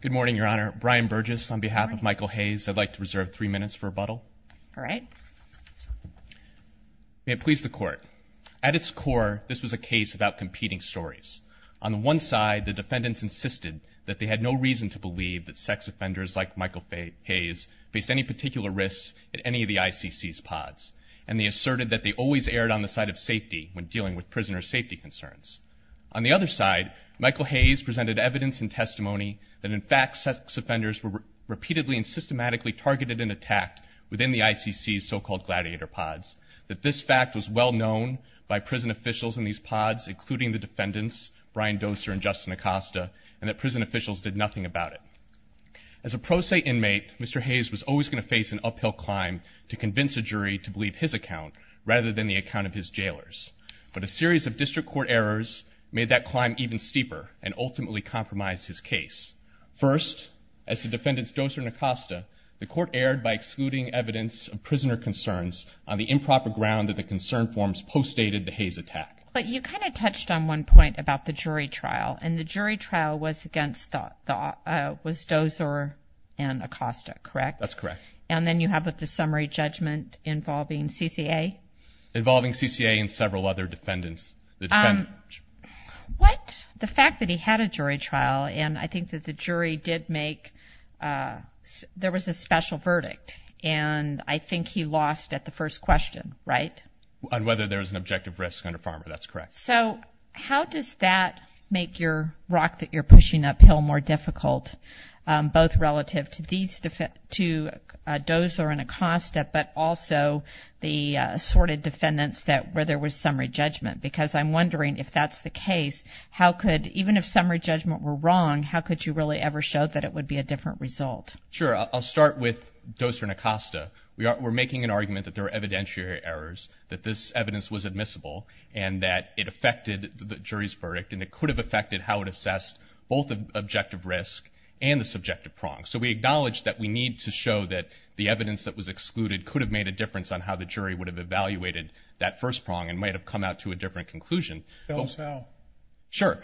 Good morning Your Honor. Brian Burgess on behalf of Michael Hayes. I'd like to reserve three minutes for rebuttal. All right. May it please the court. At its core this was a case about competing stories. On the one side the defendants insisted that they had no reason to believe that sex offenders like Michael Hayes faced any particular risks at any of the ICC's pods and they asserted that they always erred on the side of safety when dealing with prisoner safety concerns. On the other side Michael Hayes presented evidence and testimony that in fact sex offenders were repeatedly and systematically targeted and attacked within the ICC's so-called gladiator pods. That this fact was well known by prison officials in these pods including the defendants Brian Doser and Justin Acosta and that prison officials did nothing about it. As a pro se inmate Mr. Hayes was always going to face an uphill climb to convince a jury to believe his account rather than the account of his jailers. But a series of district court errors made that climb even steeper and ultimately compromised his case. First as the defendants Doser and Acosta the court erred by excluding evidence of prisoner concerns on the improper ground that the concern forms postdated the Hayes attack. But you kind of touched on one point about the jury trial and the jury trial was against the was Doser and Acosta correct? That's correct. And then you have with the summary judgment involving CCA? Involving CCA and several other defendants? What? The fact that he had a jury trial and I think that the jury did make there was a special verdict and I think he lost at the first question right? On whether there's an objective risk under farmer that's correct. So how does that make your rock that you're pushing uphill more difficult both relative to these two Doser and Acosta but also the assorted defendants that where there was summary judgment? Because I'm wondering if that's the case how could even if summary judgment were wrong how could you really ever show that it would be a different result? Sure I'll start with Doser and Acosta. We are we're making an argument that there are evidentiary errors that this evidence was admissible and that it affected the jury's verdict and it could have affected how it assessed both the objective risk and the subjective prong. So we acknowledge that we need to show that the evidence that was excluded could have made a difference on how the jury evaluated that first prong and might have come out to a different conclusion. Tell us how. Sure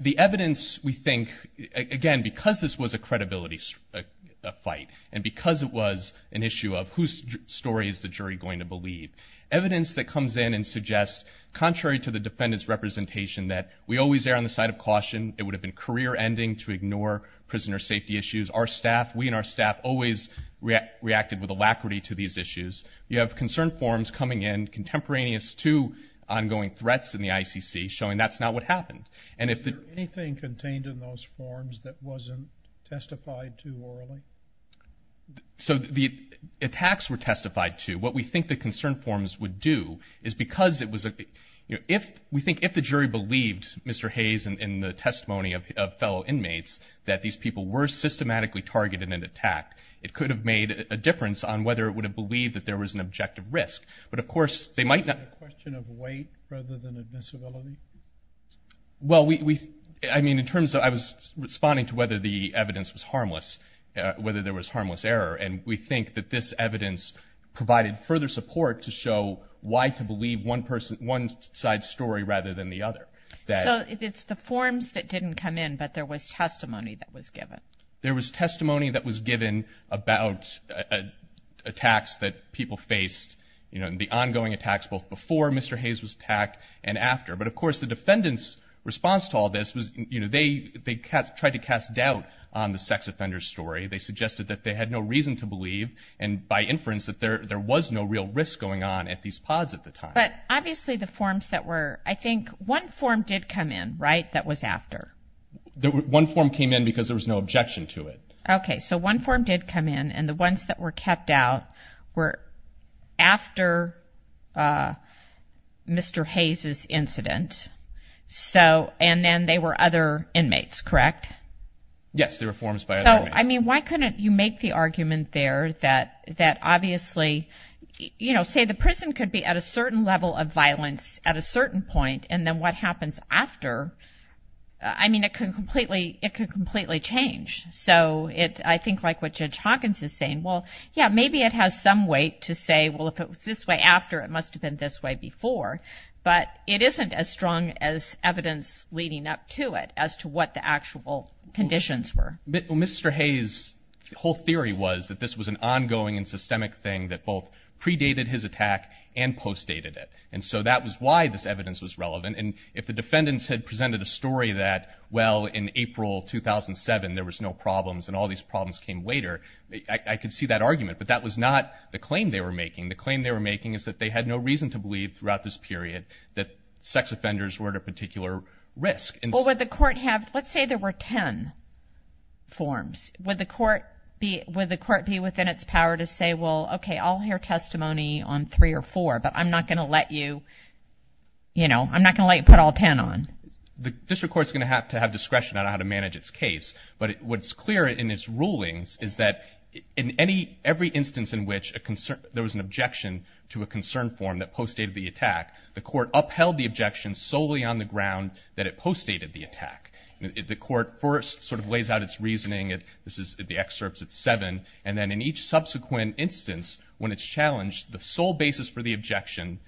the evidence we think again because this was a credibility fight and because it was an issue of whose story is the jury going to believe. Evidence that comes in and suggests contrary to the defendants representation that we always err on the side of caution. It would have been career-ending to ignore prisoner safety issues. Our staff we and our staff always reacted with alacrity to these issues. You have concern forms coming in contemporaneous to ongoing threats in the ICC showing that's not what happened and if the. Anything contained in those forms that wasn't testified to? So the attacks were testified to what we think the concern forms would do is because it was a if we think if the jury believed Mr. Hayes and in the testimony of fellow inmates that these people were systematically targeted in an attack it could have made a difference on whether it would have believed that there was an objective risk but of course they might not. Question of weight rather than admissibility? Well we I mean in terms of I was responding to whether the evidence was harmless whether there was harmless error and we think that this evidence provided further support to show why to believe one person one side story rather than the other. So it's the forms that didn't come in but there was testimony that was given about attacks that people faced you know in the ongoing attacks both before Mr. Hayes was attacked and after but of course the defendants response to all this was you know they they tried to cast doubt on the sex offender story they suggested that they had no reason to believe and by inference that there there was no real risk going on at these pods at the time. But obviously the forms that were I think one form did come in right that was after? One form came in because there was no objection to it. Okay so one form did come in and the ones that were kept out were after Mr. Hayes's incident so and then they were other inmates correct? Yes they were forms by I mean why couldn't you make the argument there that that obviously you know say the prison could be at a certain level of violence at a certain point and then what happens after I mean it could completely it could completely change so it I think like what Judge Hawkins is saying well yeah maybe it has some weight to say well if it was this way after it must have been this way before but it isn't as strong as evidence leading up to it as to what the actual conditions were. Mr. Hayes whole theory was that this was an ongoing and systemic thing that both predated his attack and post dated it and so that was why this if the defendants had presented a story that well in April 2007 there was no problems and all these problems came later I could see that argument but that was not the claim they were making the claim they were making is that they had no reason to believe throughout this period that sex offenders were at a particular risk. Well would the court have let's say there were ten forms would the court be would the court be within its power to say well okay I'll hear testimony on three or four but I'm not gonna let you you know I'm not gonna put all ten on. The district courts gonna have to have discretion on how to manage its case but what's clear in its rulings is that in any every instance in which a concern there was an objection to a concern form that post dated the attack the court upheld the objection solely on the ground that it post dated the attack the court first sort of lays out its reasoning it this is the excerpts at seven and then in each subsequent instance when it's challenged the sole basis for the objection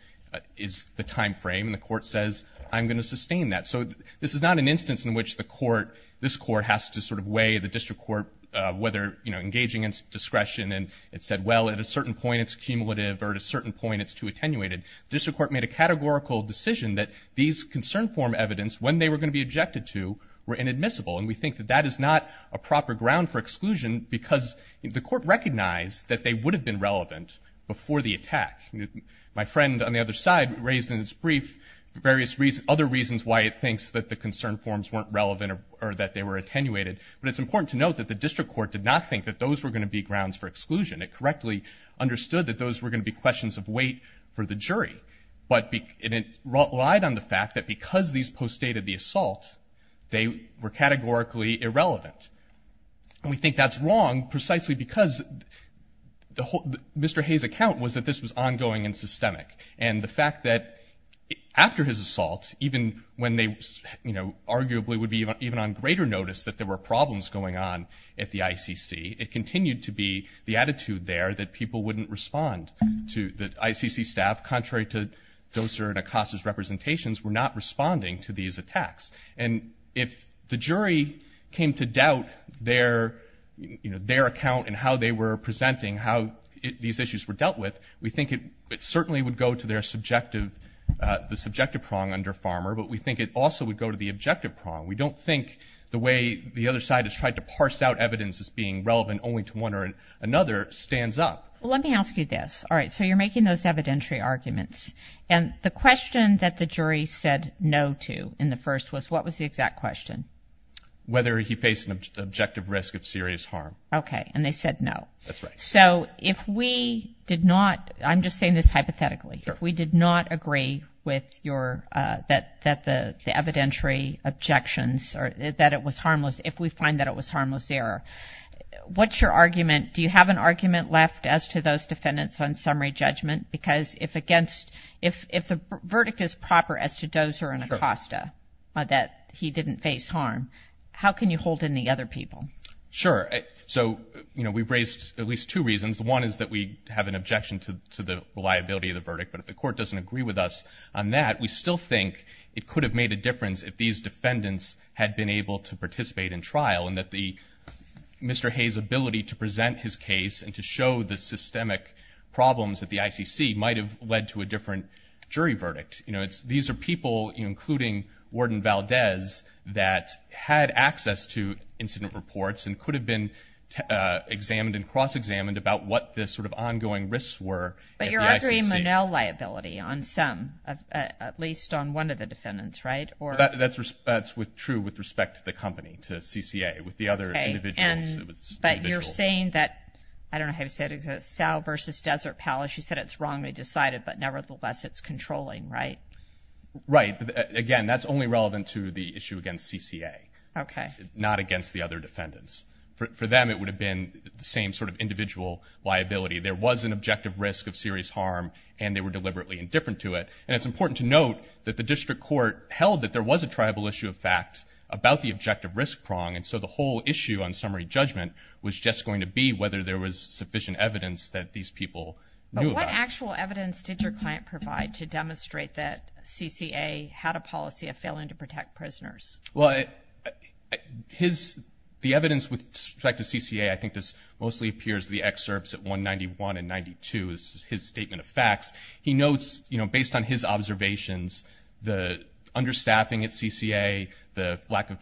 is the time frame and the court says I'm gonna sustain that so this is not an instance in which the court this court has to sort of weigh the district court whether you know engaging its discretion and it said well at a certain point it's cumulative or at a certain point it's too attenuated district court made a categorical decision that these concern form evidence when they were going to be objected to were inadmissible and we think that that is not a proper ground for exclusion because the court recognized that they would have been relevant before the attack my friend on the other side raised in its brief various reasons other reasons why it thinks that the concern forms weren't relevant or that they were attenuated but it's important to note that the district court did not think that those were going to be grounds for exclusion it correctly understood that those were going to be questions of weight for the jury but it relied on the fact that because these post dated the assault they were categorically irrelevant and we think that's wrong precisely because the whole mr. Hayes account was that this was ongoing and systemic and the fact that after his assault even when they you know arguably would be even on greater notice that there were problems going on at the ICC it continued to be the attitude there that people wouldn't respond to the ICC staff contrary to dozer and Acosta's representations were not responding to these attacks and if the jury came to doubt their you know their account and how they were presenting how these issues were dealt with we think it certainly would go to their subjective the subjective prong under farmer but we think it also would go to the objective prong we don't think the way the other side has tried to parse out evidence as being relevant only to one or another stands up let me ask you this all right so you're making those evidentiary arguments and the question that the jury said no to in the first was what was the exact question whether he faced an objective risk of serious harm okay and they said no that's right so if we did not I'm just saying this hypothetically we did not agree with your that that the evidentiary objections or that it was harmless if we find that it was harmless error what's your argument do you have an argument left as to those defendants on summary judgment because if against if if the verdict is proper as to dozer and Acosta that he didn't face harm how can you hold in the other people sure so you know we've raised at least two reasons the one is that we have an objection to the reliability of the verdict but if the court doesn't agree with us on that we still think it could have made a difference if these defendants had been able to participate in trial and that the mr. Hayes ability to present his case and to show the systemic problems that the ICC might have led to a different jury verdict you know it's these are people including Warden Valdez that had access to incident reports and could have been examined and cross-examined about what this sort of ongoing risks were but you're a green manel liability on some at least on one of the defendants right or that's respect with true with respect to the company to CCA with the other individuals but you're saying that I don't have said it's a sow versus desert palace you said it's wrong they decided but nevertheless it's controlling right right again that's only relevant to the issue against CCA okay not against the other defendants for them it would have been the same sort of individual liability there was an objective risk of serious harm and they were deliberately indifferent to it and it's important to note that the district court held that there was a tribal issue of fact about the objective risk prong and so the whole issue on to be whether there was sufficient evidence that these people what actual evidence did your client provide to demonstrate that CCA had a policy of failing to protect prisoners well his the evidence with respect to CCA I think this mostly appears the excerpts at 191 and 92 is his statement of facts he notes you know based on his observations the understaffing at CCA the lack of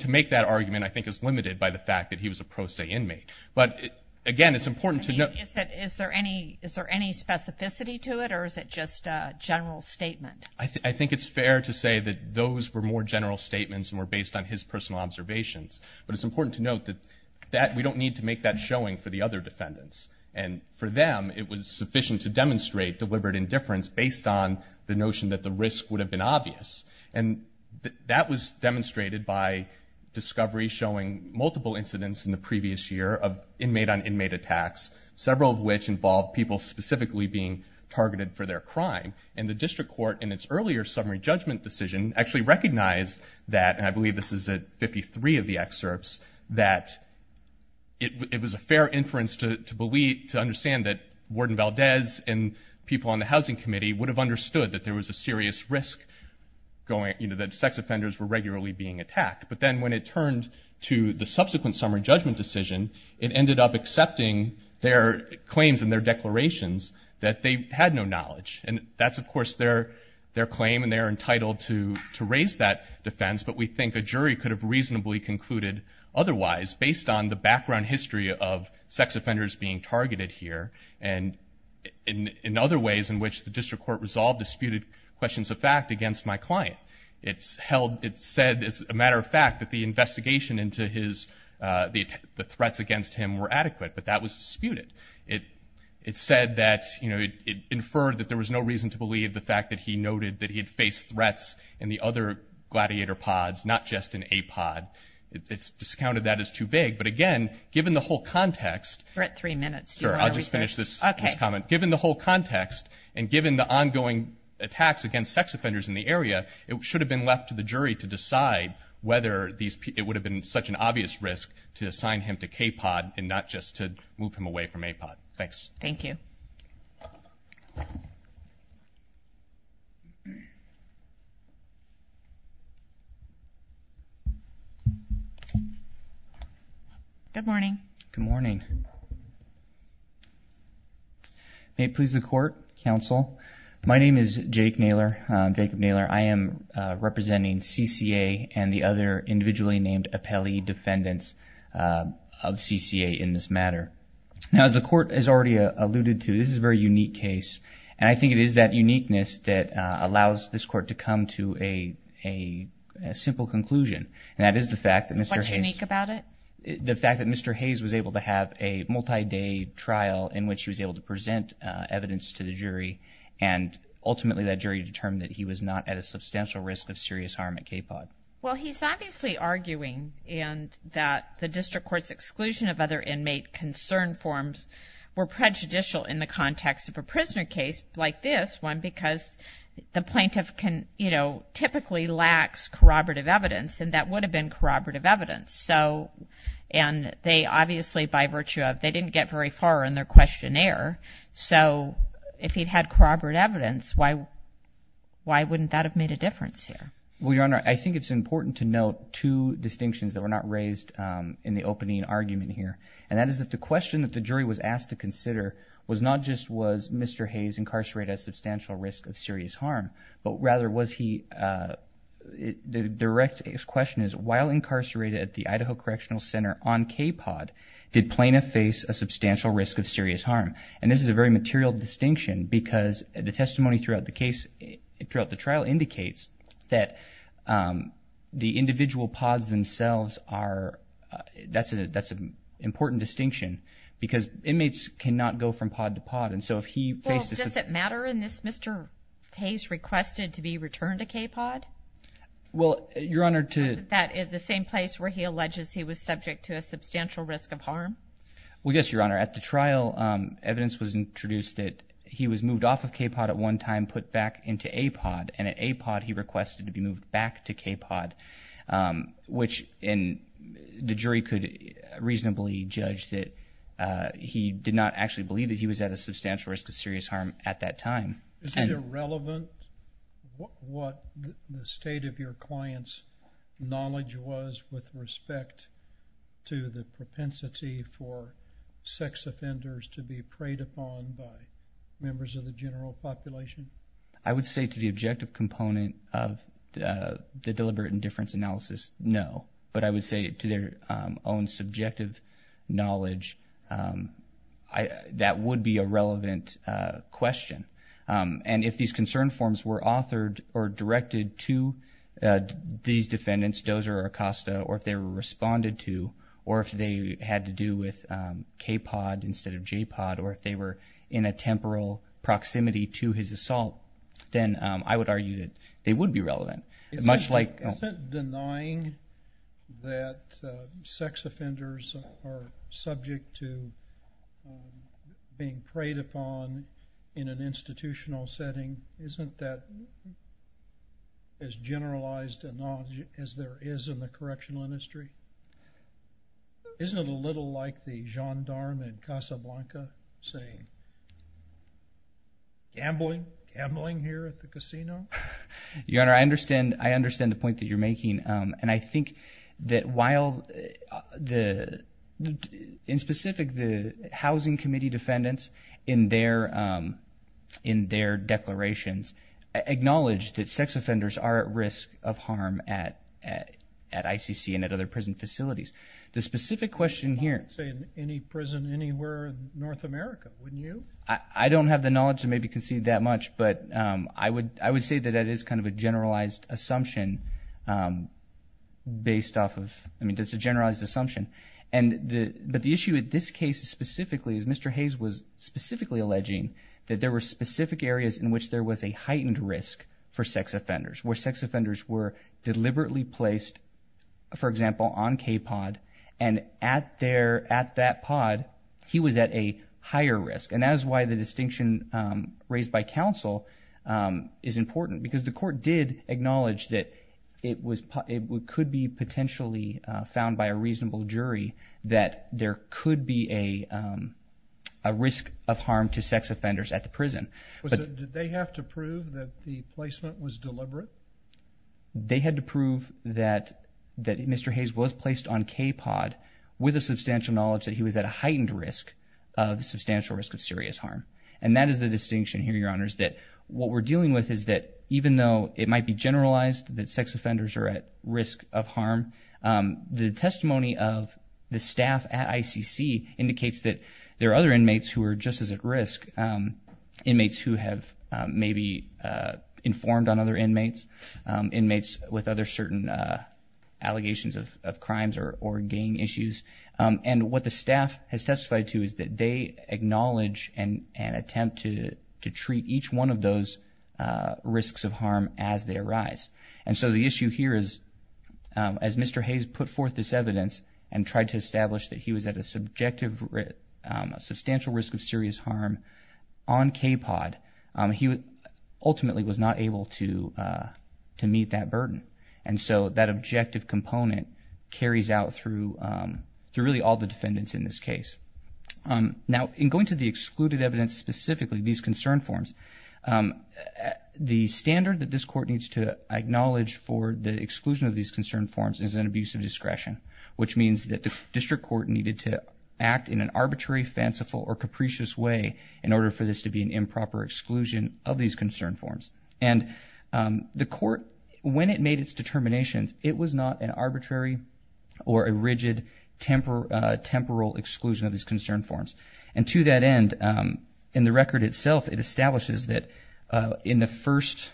to make that argument I think is limited by the fact that he was a pro se inmate but again it's important to know is there any is there any specificity to it or is it just a general statement I think it's fair to say that those were more general statements and were based on his personal observations but it's important to note that that we don't need to make that showing for the other defendants and for them it was sufficient to demonstrate deliberate indifference based on the notion that the risk would have been obvious and that was demonstrated by discovery showing multiple incidents in the previous year of inmate on inmate attacks several of which involved people specifically being targeted for their crime and the district court in its earlier summary judgment decision actually recognized that and I believe this is a 53 of the excerpts that it was a fair inference to believe to understand that warden Valdez and people on the housing committee would have that sex offenders were regularly being attacked but then when it turned to the subsequent summary judgment decision it ended up accepting their claims and their declarations that they had no knowledge and that's of course their their claim and they're entitled to to raise that defense but we think a jury could have reasonably concluded otherwise based on the background history of sex offenders being targeted here and in other ways in which the held it said as a matter of fact that the investigation into his the threats against him were adequate but that was disputed it it said that you know it inferred that there was no reason to believe the fact that he noted that he had faced threats and the other gladiator pods not just in a pod it's discounted that is too big but again given the whole context right three minutes sure I'll just finish this comment given the whole context and given the ongoing attacks against sex offenders in the area it should have been left to the jury to decide whether these people would have been such an obvious risk to assign him to K pod and not just to move him away from a pod thanks thank you good morning good morning may it please the court counsel my name is Jake Naylor Jacob Naylor I am representing CCA and the other individually named appellee defendants of CCA in this matter now as the court has already alluded to this is a very unique case and I think it is that uniqueness that allows this court to come to a a simple conclusion and that is the fact that mr. Hayes about it the fact that mr. Hayes was able to have a multi-day trial in which he was able to present evidence to the jury and ultimately that jury determined that he was not at a substantial risk of serious harm at K pod well he's obviously arguing and that the district courts exclusion of other inmate concern forms were prejudicial in the context of a prisoner case like this one because the plaintiff can you know typically lacks corroborative evidence and that would have been corroborative evidence so and they obviously by virtue of they didn't get very far in their questionnaire so if he'd had corroborate evidence why why wouldn't that have made a difference here well your honor I think it's important to note two distinctions that were not raised in the opening argument here and that is that the question that the jury was asked to consider was not just was mr. Hayes incarcerated a substantial risk of serious harm but rather was he the direct question is while incarcerated at the Idaho Correctional Center on K pod did plaintiff face a substantial risk of serious harm and this is a very material distinction because the testimony throughout the case throughout the trial indicates that the individual pods themselves are that's a that's an important distinction because inmates cannot go from pod to pod and so if he does it matter in this mr. Hayes requested to be returned to K pod well your honor to that is the same place where he alleges he was subject to a substantial risk of harm well yes your honor at the trial evidence was introduced that he was moved off of K pod at one time put back into a pod and at a pod he requested to be moved back to K pod which in the jury could reasonably judge that he did not actually believe that he was at a substantial risk of serious harm at that time what the state of your clients knowledge was with respect to the propensity for sex offenders to be preyed upon by members of the general population I would say to the objective component of the deliberate indifference analysis no but I would say to their own subjective knowledge I that would be a and if these concern forms were authored or directed to these defendants dozer or Costa or if they were responded to or if they had to do with K pod instead of J pod or if they were in a temporal proximity to his assault then I would argue that they would be relevant much like denying that sex offenders are in an institutional setting isn't that as generalized as there is in the correctional industry isn't it a little like the gendarme in Casablanca saying gambling gambling here at the casino your honor I understand I understand the point that you're making and I think that while the in specific the housing committee defendants in their in their declarations acknowledged that sex offenders are at risk of harm at at ICC and at other prison facilities the specific question here say in any prison anywhere North America wouldn't you I don't have the knowledge to maybe concede that much but I would I would say that that is kind of a generalized assumption based off of I mean just a Mr. Hayes was specifically alleging that there were specific areas in which there was a heightened risk for sex offenders where sex offenders were deliberately placed for example on K pod and at there at that pod he was at a higher risk and that is why the distinction raised by counsel is important because the court did acknowledge that it was it could be risk of harm to sex offenders at the prison but they have to prove that the placement was deliberate they had to prove that that mr. Hayes was placed on K pod with a substantial knowledge that he was at a heightened risk of the substantial risk of serious harm and that is the distinction here your honors that what we're dealing with is that even though it might be generalized that sex offenders are at risk of harm the testimony of the staff at ICC indicates that there are other inmates who are just as at risk inmates who have maybe informed on other inmates inmates with other certain allegations of crimes or or gang issues and what the staff has testified to is that they acknowledge and an attempt to to treat each one of those risks of harm as they arise and so the issue here is as mr. Hayes put forth this evidence and tried to establish that he was at a subjective risk a substantial risk of serious harm on K pod he would ultimately was not able to to meet that burden and so that objective component carries out through through really all the defendants in this case now in going to the excluded evidence specifically these concern forms the standard that this court needs to acknowledge for the exclusion of these concern forms is an abuse of discretion which means that the district court needed to act in an arbitrary fanciful or capricious way in order for this to be an improper exclusion of these concern forms and the court when it made its determinations it was not an arbitrary or a rigid temper temporal exclusion of these concern forms and to that end in the record itself it establishes that in the first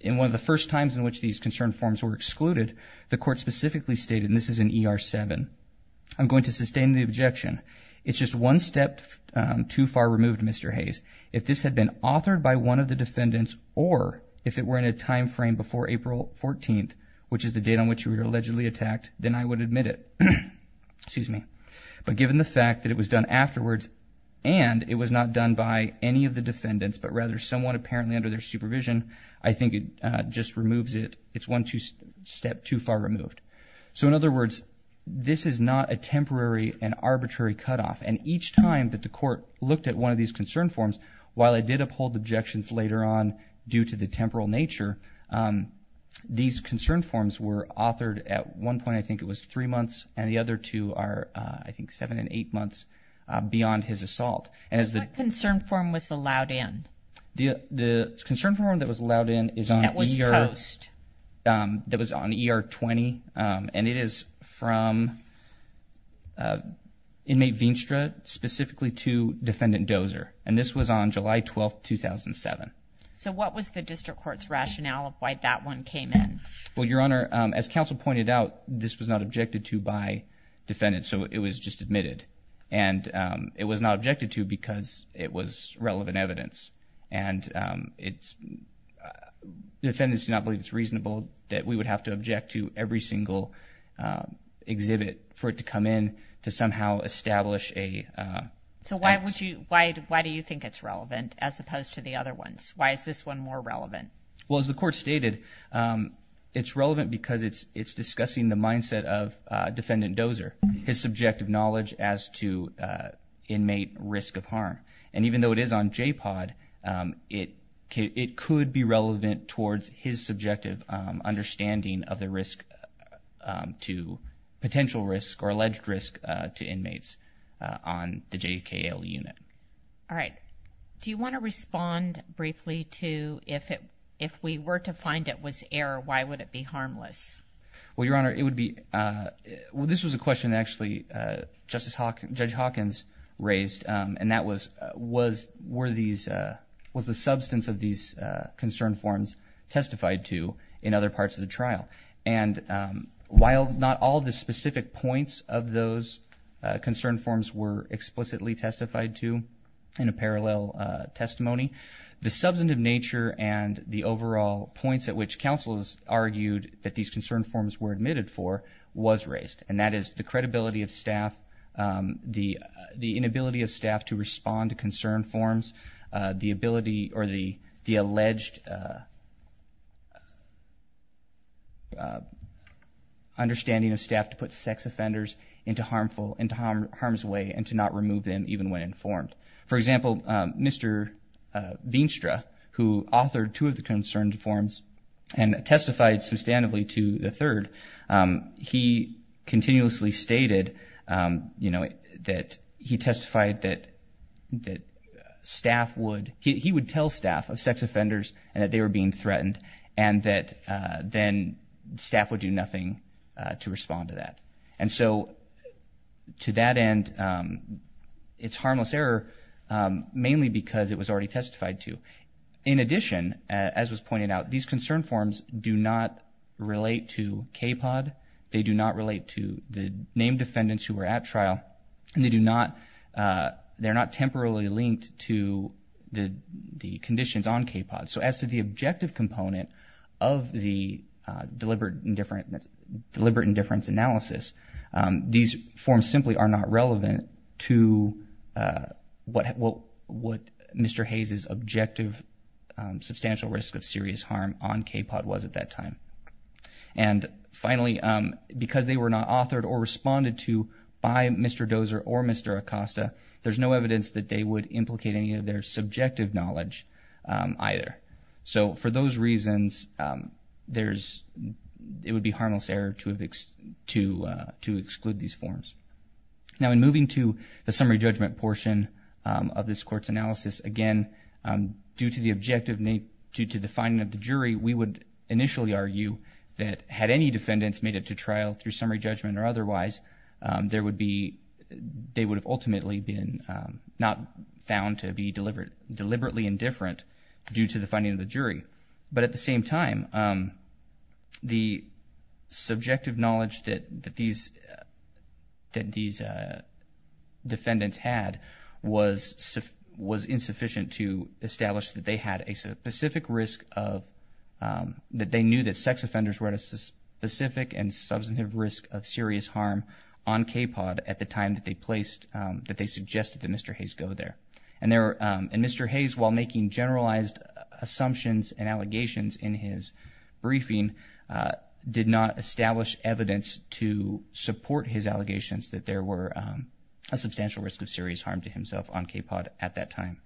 in one of the first times in which these concern forms were excluded the court specifically stated in this is an ER 7 I'm going to sustain the objection it's just one step too far removed mr. Hayes if this had been authored by one of the defendants or if it were in a time frame before April 14th which is the date on which you were allegedly attacked then I would admit it excuse me but given the fact that it was done afterwards and it was not done by any of the defendants but rather someone apparently under their supervision I think it just removes it it's one two step too far removed so in other words this is not a temporary and arbitrary cutoff and each time that the court looked at one of these concern forms while I did uphold objections later on due to the temporal nature these concern forms were authored at one point I think it was three months and the other two are I think seven and months beyond his assault and as the concern form was allowed in the the concern form that was allowed in is on your host that was on the ER 20 and it is from inmate Veenstra specifically to defendant dozer and this was on July 12 2007 so what was the district courts rationale of why that one came in well your honor as counsel pointed out this was not objected to by defendants so it was just admitted and it was not objected to because it was relevant evidence and it's defendants do not believe it's reasonable that we would have to object to every single exhibit for it to come in to somehow establish a so why would you why why do you think it's relevant as opposed to the other ones why is this one more relevant well as the court stated it's relevant because it's it's discussing the mindset of defendant dozer his subjective knowledge as to inmate risk of harm and even though it is on J pod it it could be relevant towards his subjective understanding of the risk to potential risk or alleged risk to inmates on the JKL unit all right do you want to respond briefly to if it if we were to find it was error why would it be harmless well your honor it would be well this was a question actually justice Hawk judge Hawkins raised and that was was were these was the substance of these concern forms testified to in other parts of the trial and while not all the specific points of those concern forms were explicitly testified to in a parallel testimony the substantive nature and the overall points at which counsel's argued that these concern forms were admitted for was raised and that is the credibility of staff the the inability of staff to respond to concern forms the ability or the the alleged understanding of staff to put sex offenders into harmful and harm harms away and to not remove them even when informed for example mr. Veenstra who authored two of the concerned forms and testified substantively to the third he continuously stated you know that he testified that that staff would he would tell staff of sex offenders and that they were being threatened and that then staff would do nothing to respond to that and so to that end it's harmless error mainly because it was already testified to in addition as was pointed out these concern forms do not relate to kpod they do not relate to the named defendants who were at trial and they do not they're not temporarily linked to the the conditions on kpod so as to the objective component of the deliberate indifference deliberate indifference analysis these forms simply are not relevant to what what what mr. Hayes is objective substantial risk of serious harm on kpod was at that time and finally because they were not authored or responded to by mr. dozer or mr. Acosta there's no evidence that they would implicate any of their subjective knowledge either so for those reasons there's it would be harmless error to to to exclude these forms now in moving to the summary judgment portion of this courts analysis again due to the objective name due to the finding of the jury we would initially argue that had any defendants made it to trial through summary judgment or otherwise there would be they would have ultimately been not found to be delivered deliberately indifferent due to the finding of the subjective knowledge that that these that these defendants had was was insufficient to establish that they had a specific risk of that they knew that sex offenders were at a specific and substantive risk of serious harm on kpod at the time that they placed that they suggested that mr. Hayes go there and there and mr. Hayes while making generalized assumptions and allegations in his briefing did not establish evidence to support his allegations that there were a substantial risk of serious harm to himself on kpod at that time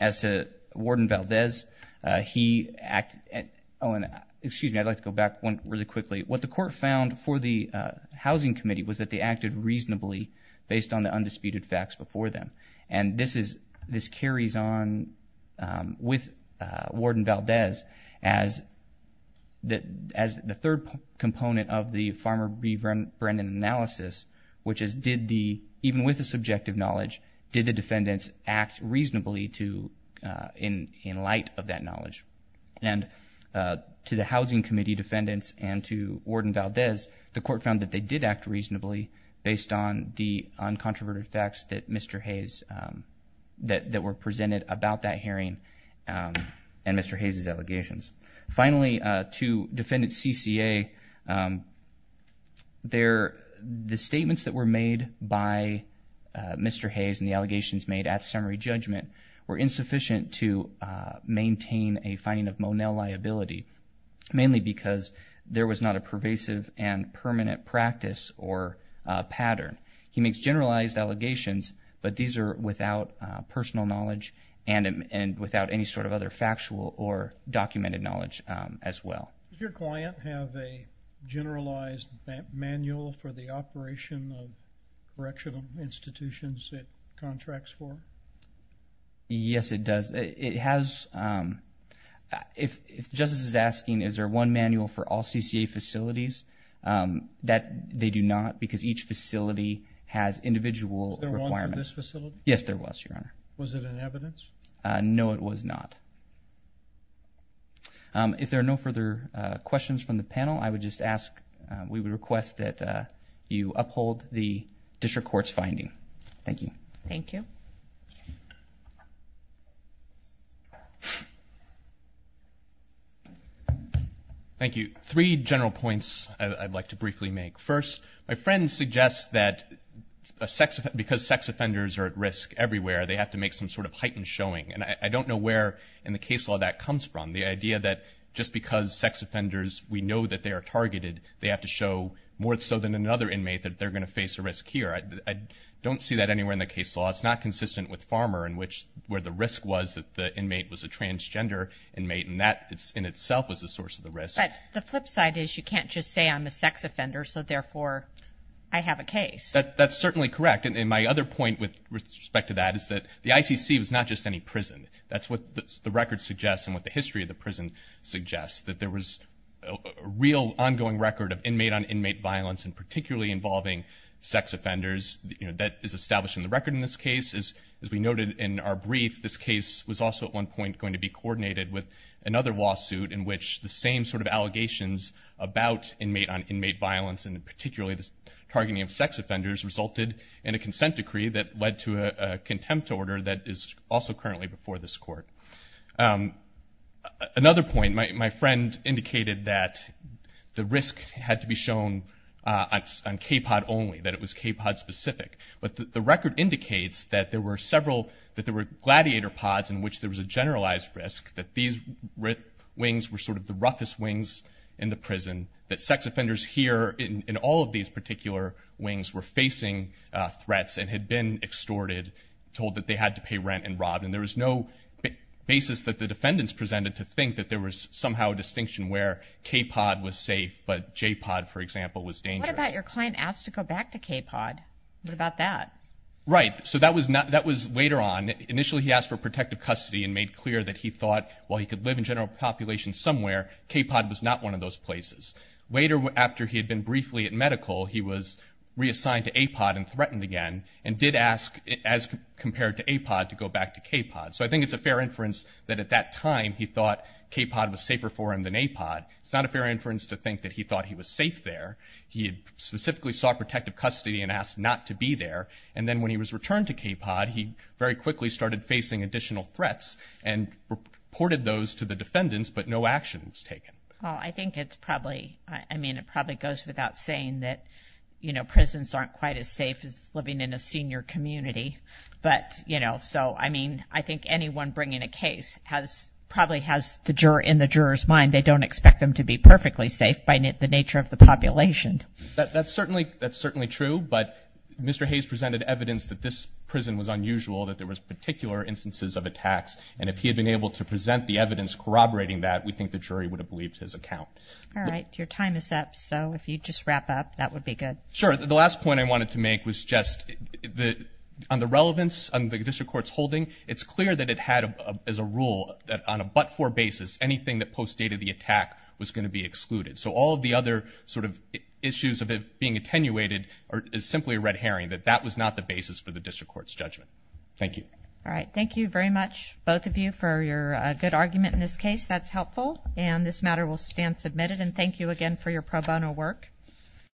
as to Warden Valdez he acted oh and excuse me I'd like to go back one really quickly what the court found for the housing committee was that they acted reasonably based on the undisputed facts before them and this is this carries on with Warden Valdez as that as the third component of the farmer be Vrenn Brennan analysis which is did the even with the subjective knowledge did the defendants act reasonably to in in light of that knowledge and to the housing committee defendants and to Warden Valdez the court found that they did act reasonably based on the uncontroverted facts that mr. Hayes that that were and mr. Hayes's allegations finally to defend its CCA there the statements that were made by mr. Hayes and the allegations made at summary judgment were insufficient to maintain a finding of Monell liability mainly because there was not a pervasive and permanent practice or pattern he makes generalized allegations but these are without personal knowledge and and without any sort of other factual or documented knowledge as well your client have a generalized manual for the operation of correctional institutions it contracts for yes it does it has if justice is asking is there one manual for all CCA facilities that they do not because each facility has individual yes there was your honor no it was not if there are no further questions from the panel I would just ask we would request that you uphold the district courts finding thank you thank you thank you three general points I'd like to briefly make first my friend suggests that a sex because sex offenders are at risk everywhere they have to make some sort of heightened showing and I don't know where in the case law that comes from the idea that just because sex offenders we know that they are targeted they have to show more so than another inmate that they're gonna face a risk here I don't see that anywhere in the case law it's not consistent with farmer in which where the risk was that the inmate was a transgender inmate and that it's in itself was the source of the risk the flip side is you can't just say I'm a sex offender so therefore I have a case that that's certainly correct and in my other point with respect to that is that the ICC was not just any prison that's what the record suggests and what the history of the prison suggests that there was a real ongoing record of sex offenders you know that is established in the record in this case is as we noted in our brief this case was also at one point going to be coordinated with another lawsuit in which the same sort of allegations about inmate on inmate violence and particularly the targeting of sex offenders resulted in a consent decree that led to a contempt order that is also currently before this court another point my friend indicated that the risk had to be shown on k-pod only that it was k-pod specific but the record indicates that there were several that there were gladiator pods in which there was a generalized risk that these with wings were sort of the roughest wings in the prison that sex offenders here in all of these particular wings were facing threats and had been extorted told that they had to pay rent and robbed and there was no basis that the defendants presented to think that there was somehow a distinction where k-pod was safe but j-pod for example was dangerous about your client asked to go back to k-pod what about that right so that was not that was later on initially he asked for protective custody and made clear that he thought well he could live in general population somewhere k-pod was not one of those places later after he had been briefly at medical he was reassigned to a pod and threatened again and did ask as compared to a pod to go back to k-pod so I think it's a fair inference that at that time he thought k-pod was safer for him than a pod it's not a fair inference to think that he thought he was safe there he had specifically saw protective custody and asked not to be there and then when he was returned to k-pod he very quickly started facing additional threats and reported those to the defendants but no action was taken I think it's probably I mean it probably goes without saying that you know prisons aren't quite as safe as living in a senior community but know so I mean I think anyone bringing a case has probably has the juror in the jurors mind they don't expect them to be perfectly safe by the nature of the population that's certainly that's certainly true but mr. Hayes presented evidence that this prison was unusual that there was particular instances of attacks and if he had been able to present the evidence corroborating that we think the jury would have believed his account all right your time is up so if you just wrap up that would be good sure the last point I wanted to make was just the on the relevance on the district courts holding it's clear that it had as a rule that on a but-for basis anything that post dated the attack was going to be excluded so all of the other sort of issues of it being attenuated or is simply a red herring that that was not the basis for the district courts judgment thank you all right thank you very much both of you for your good argument in this case that's helpful and this matter will stand submitted and thank you again for your pro bono work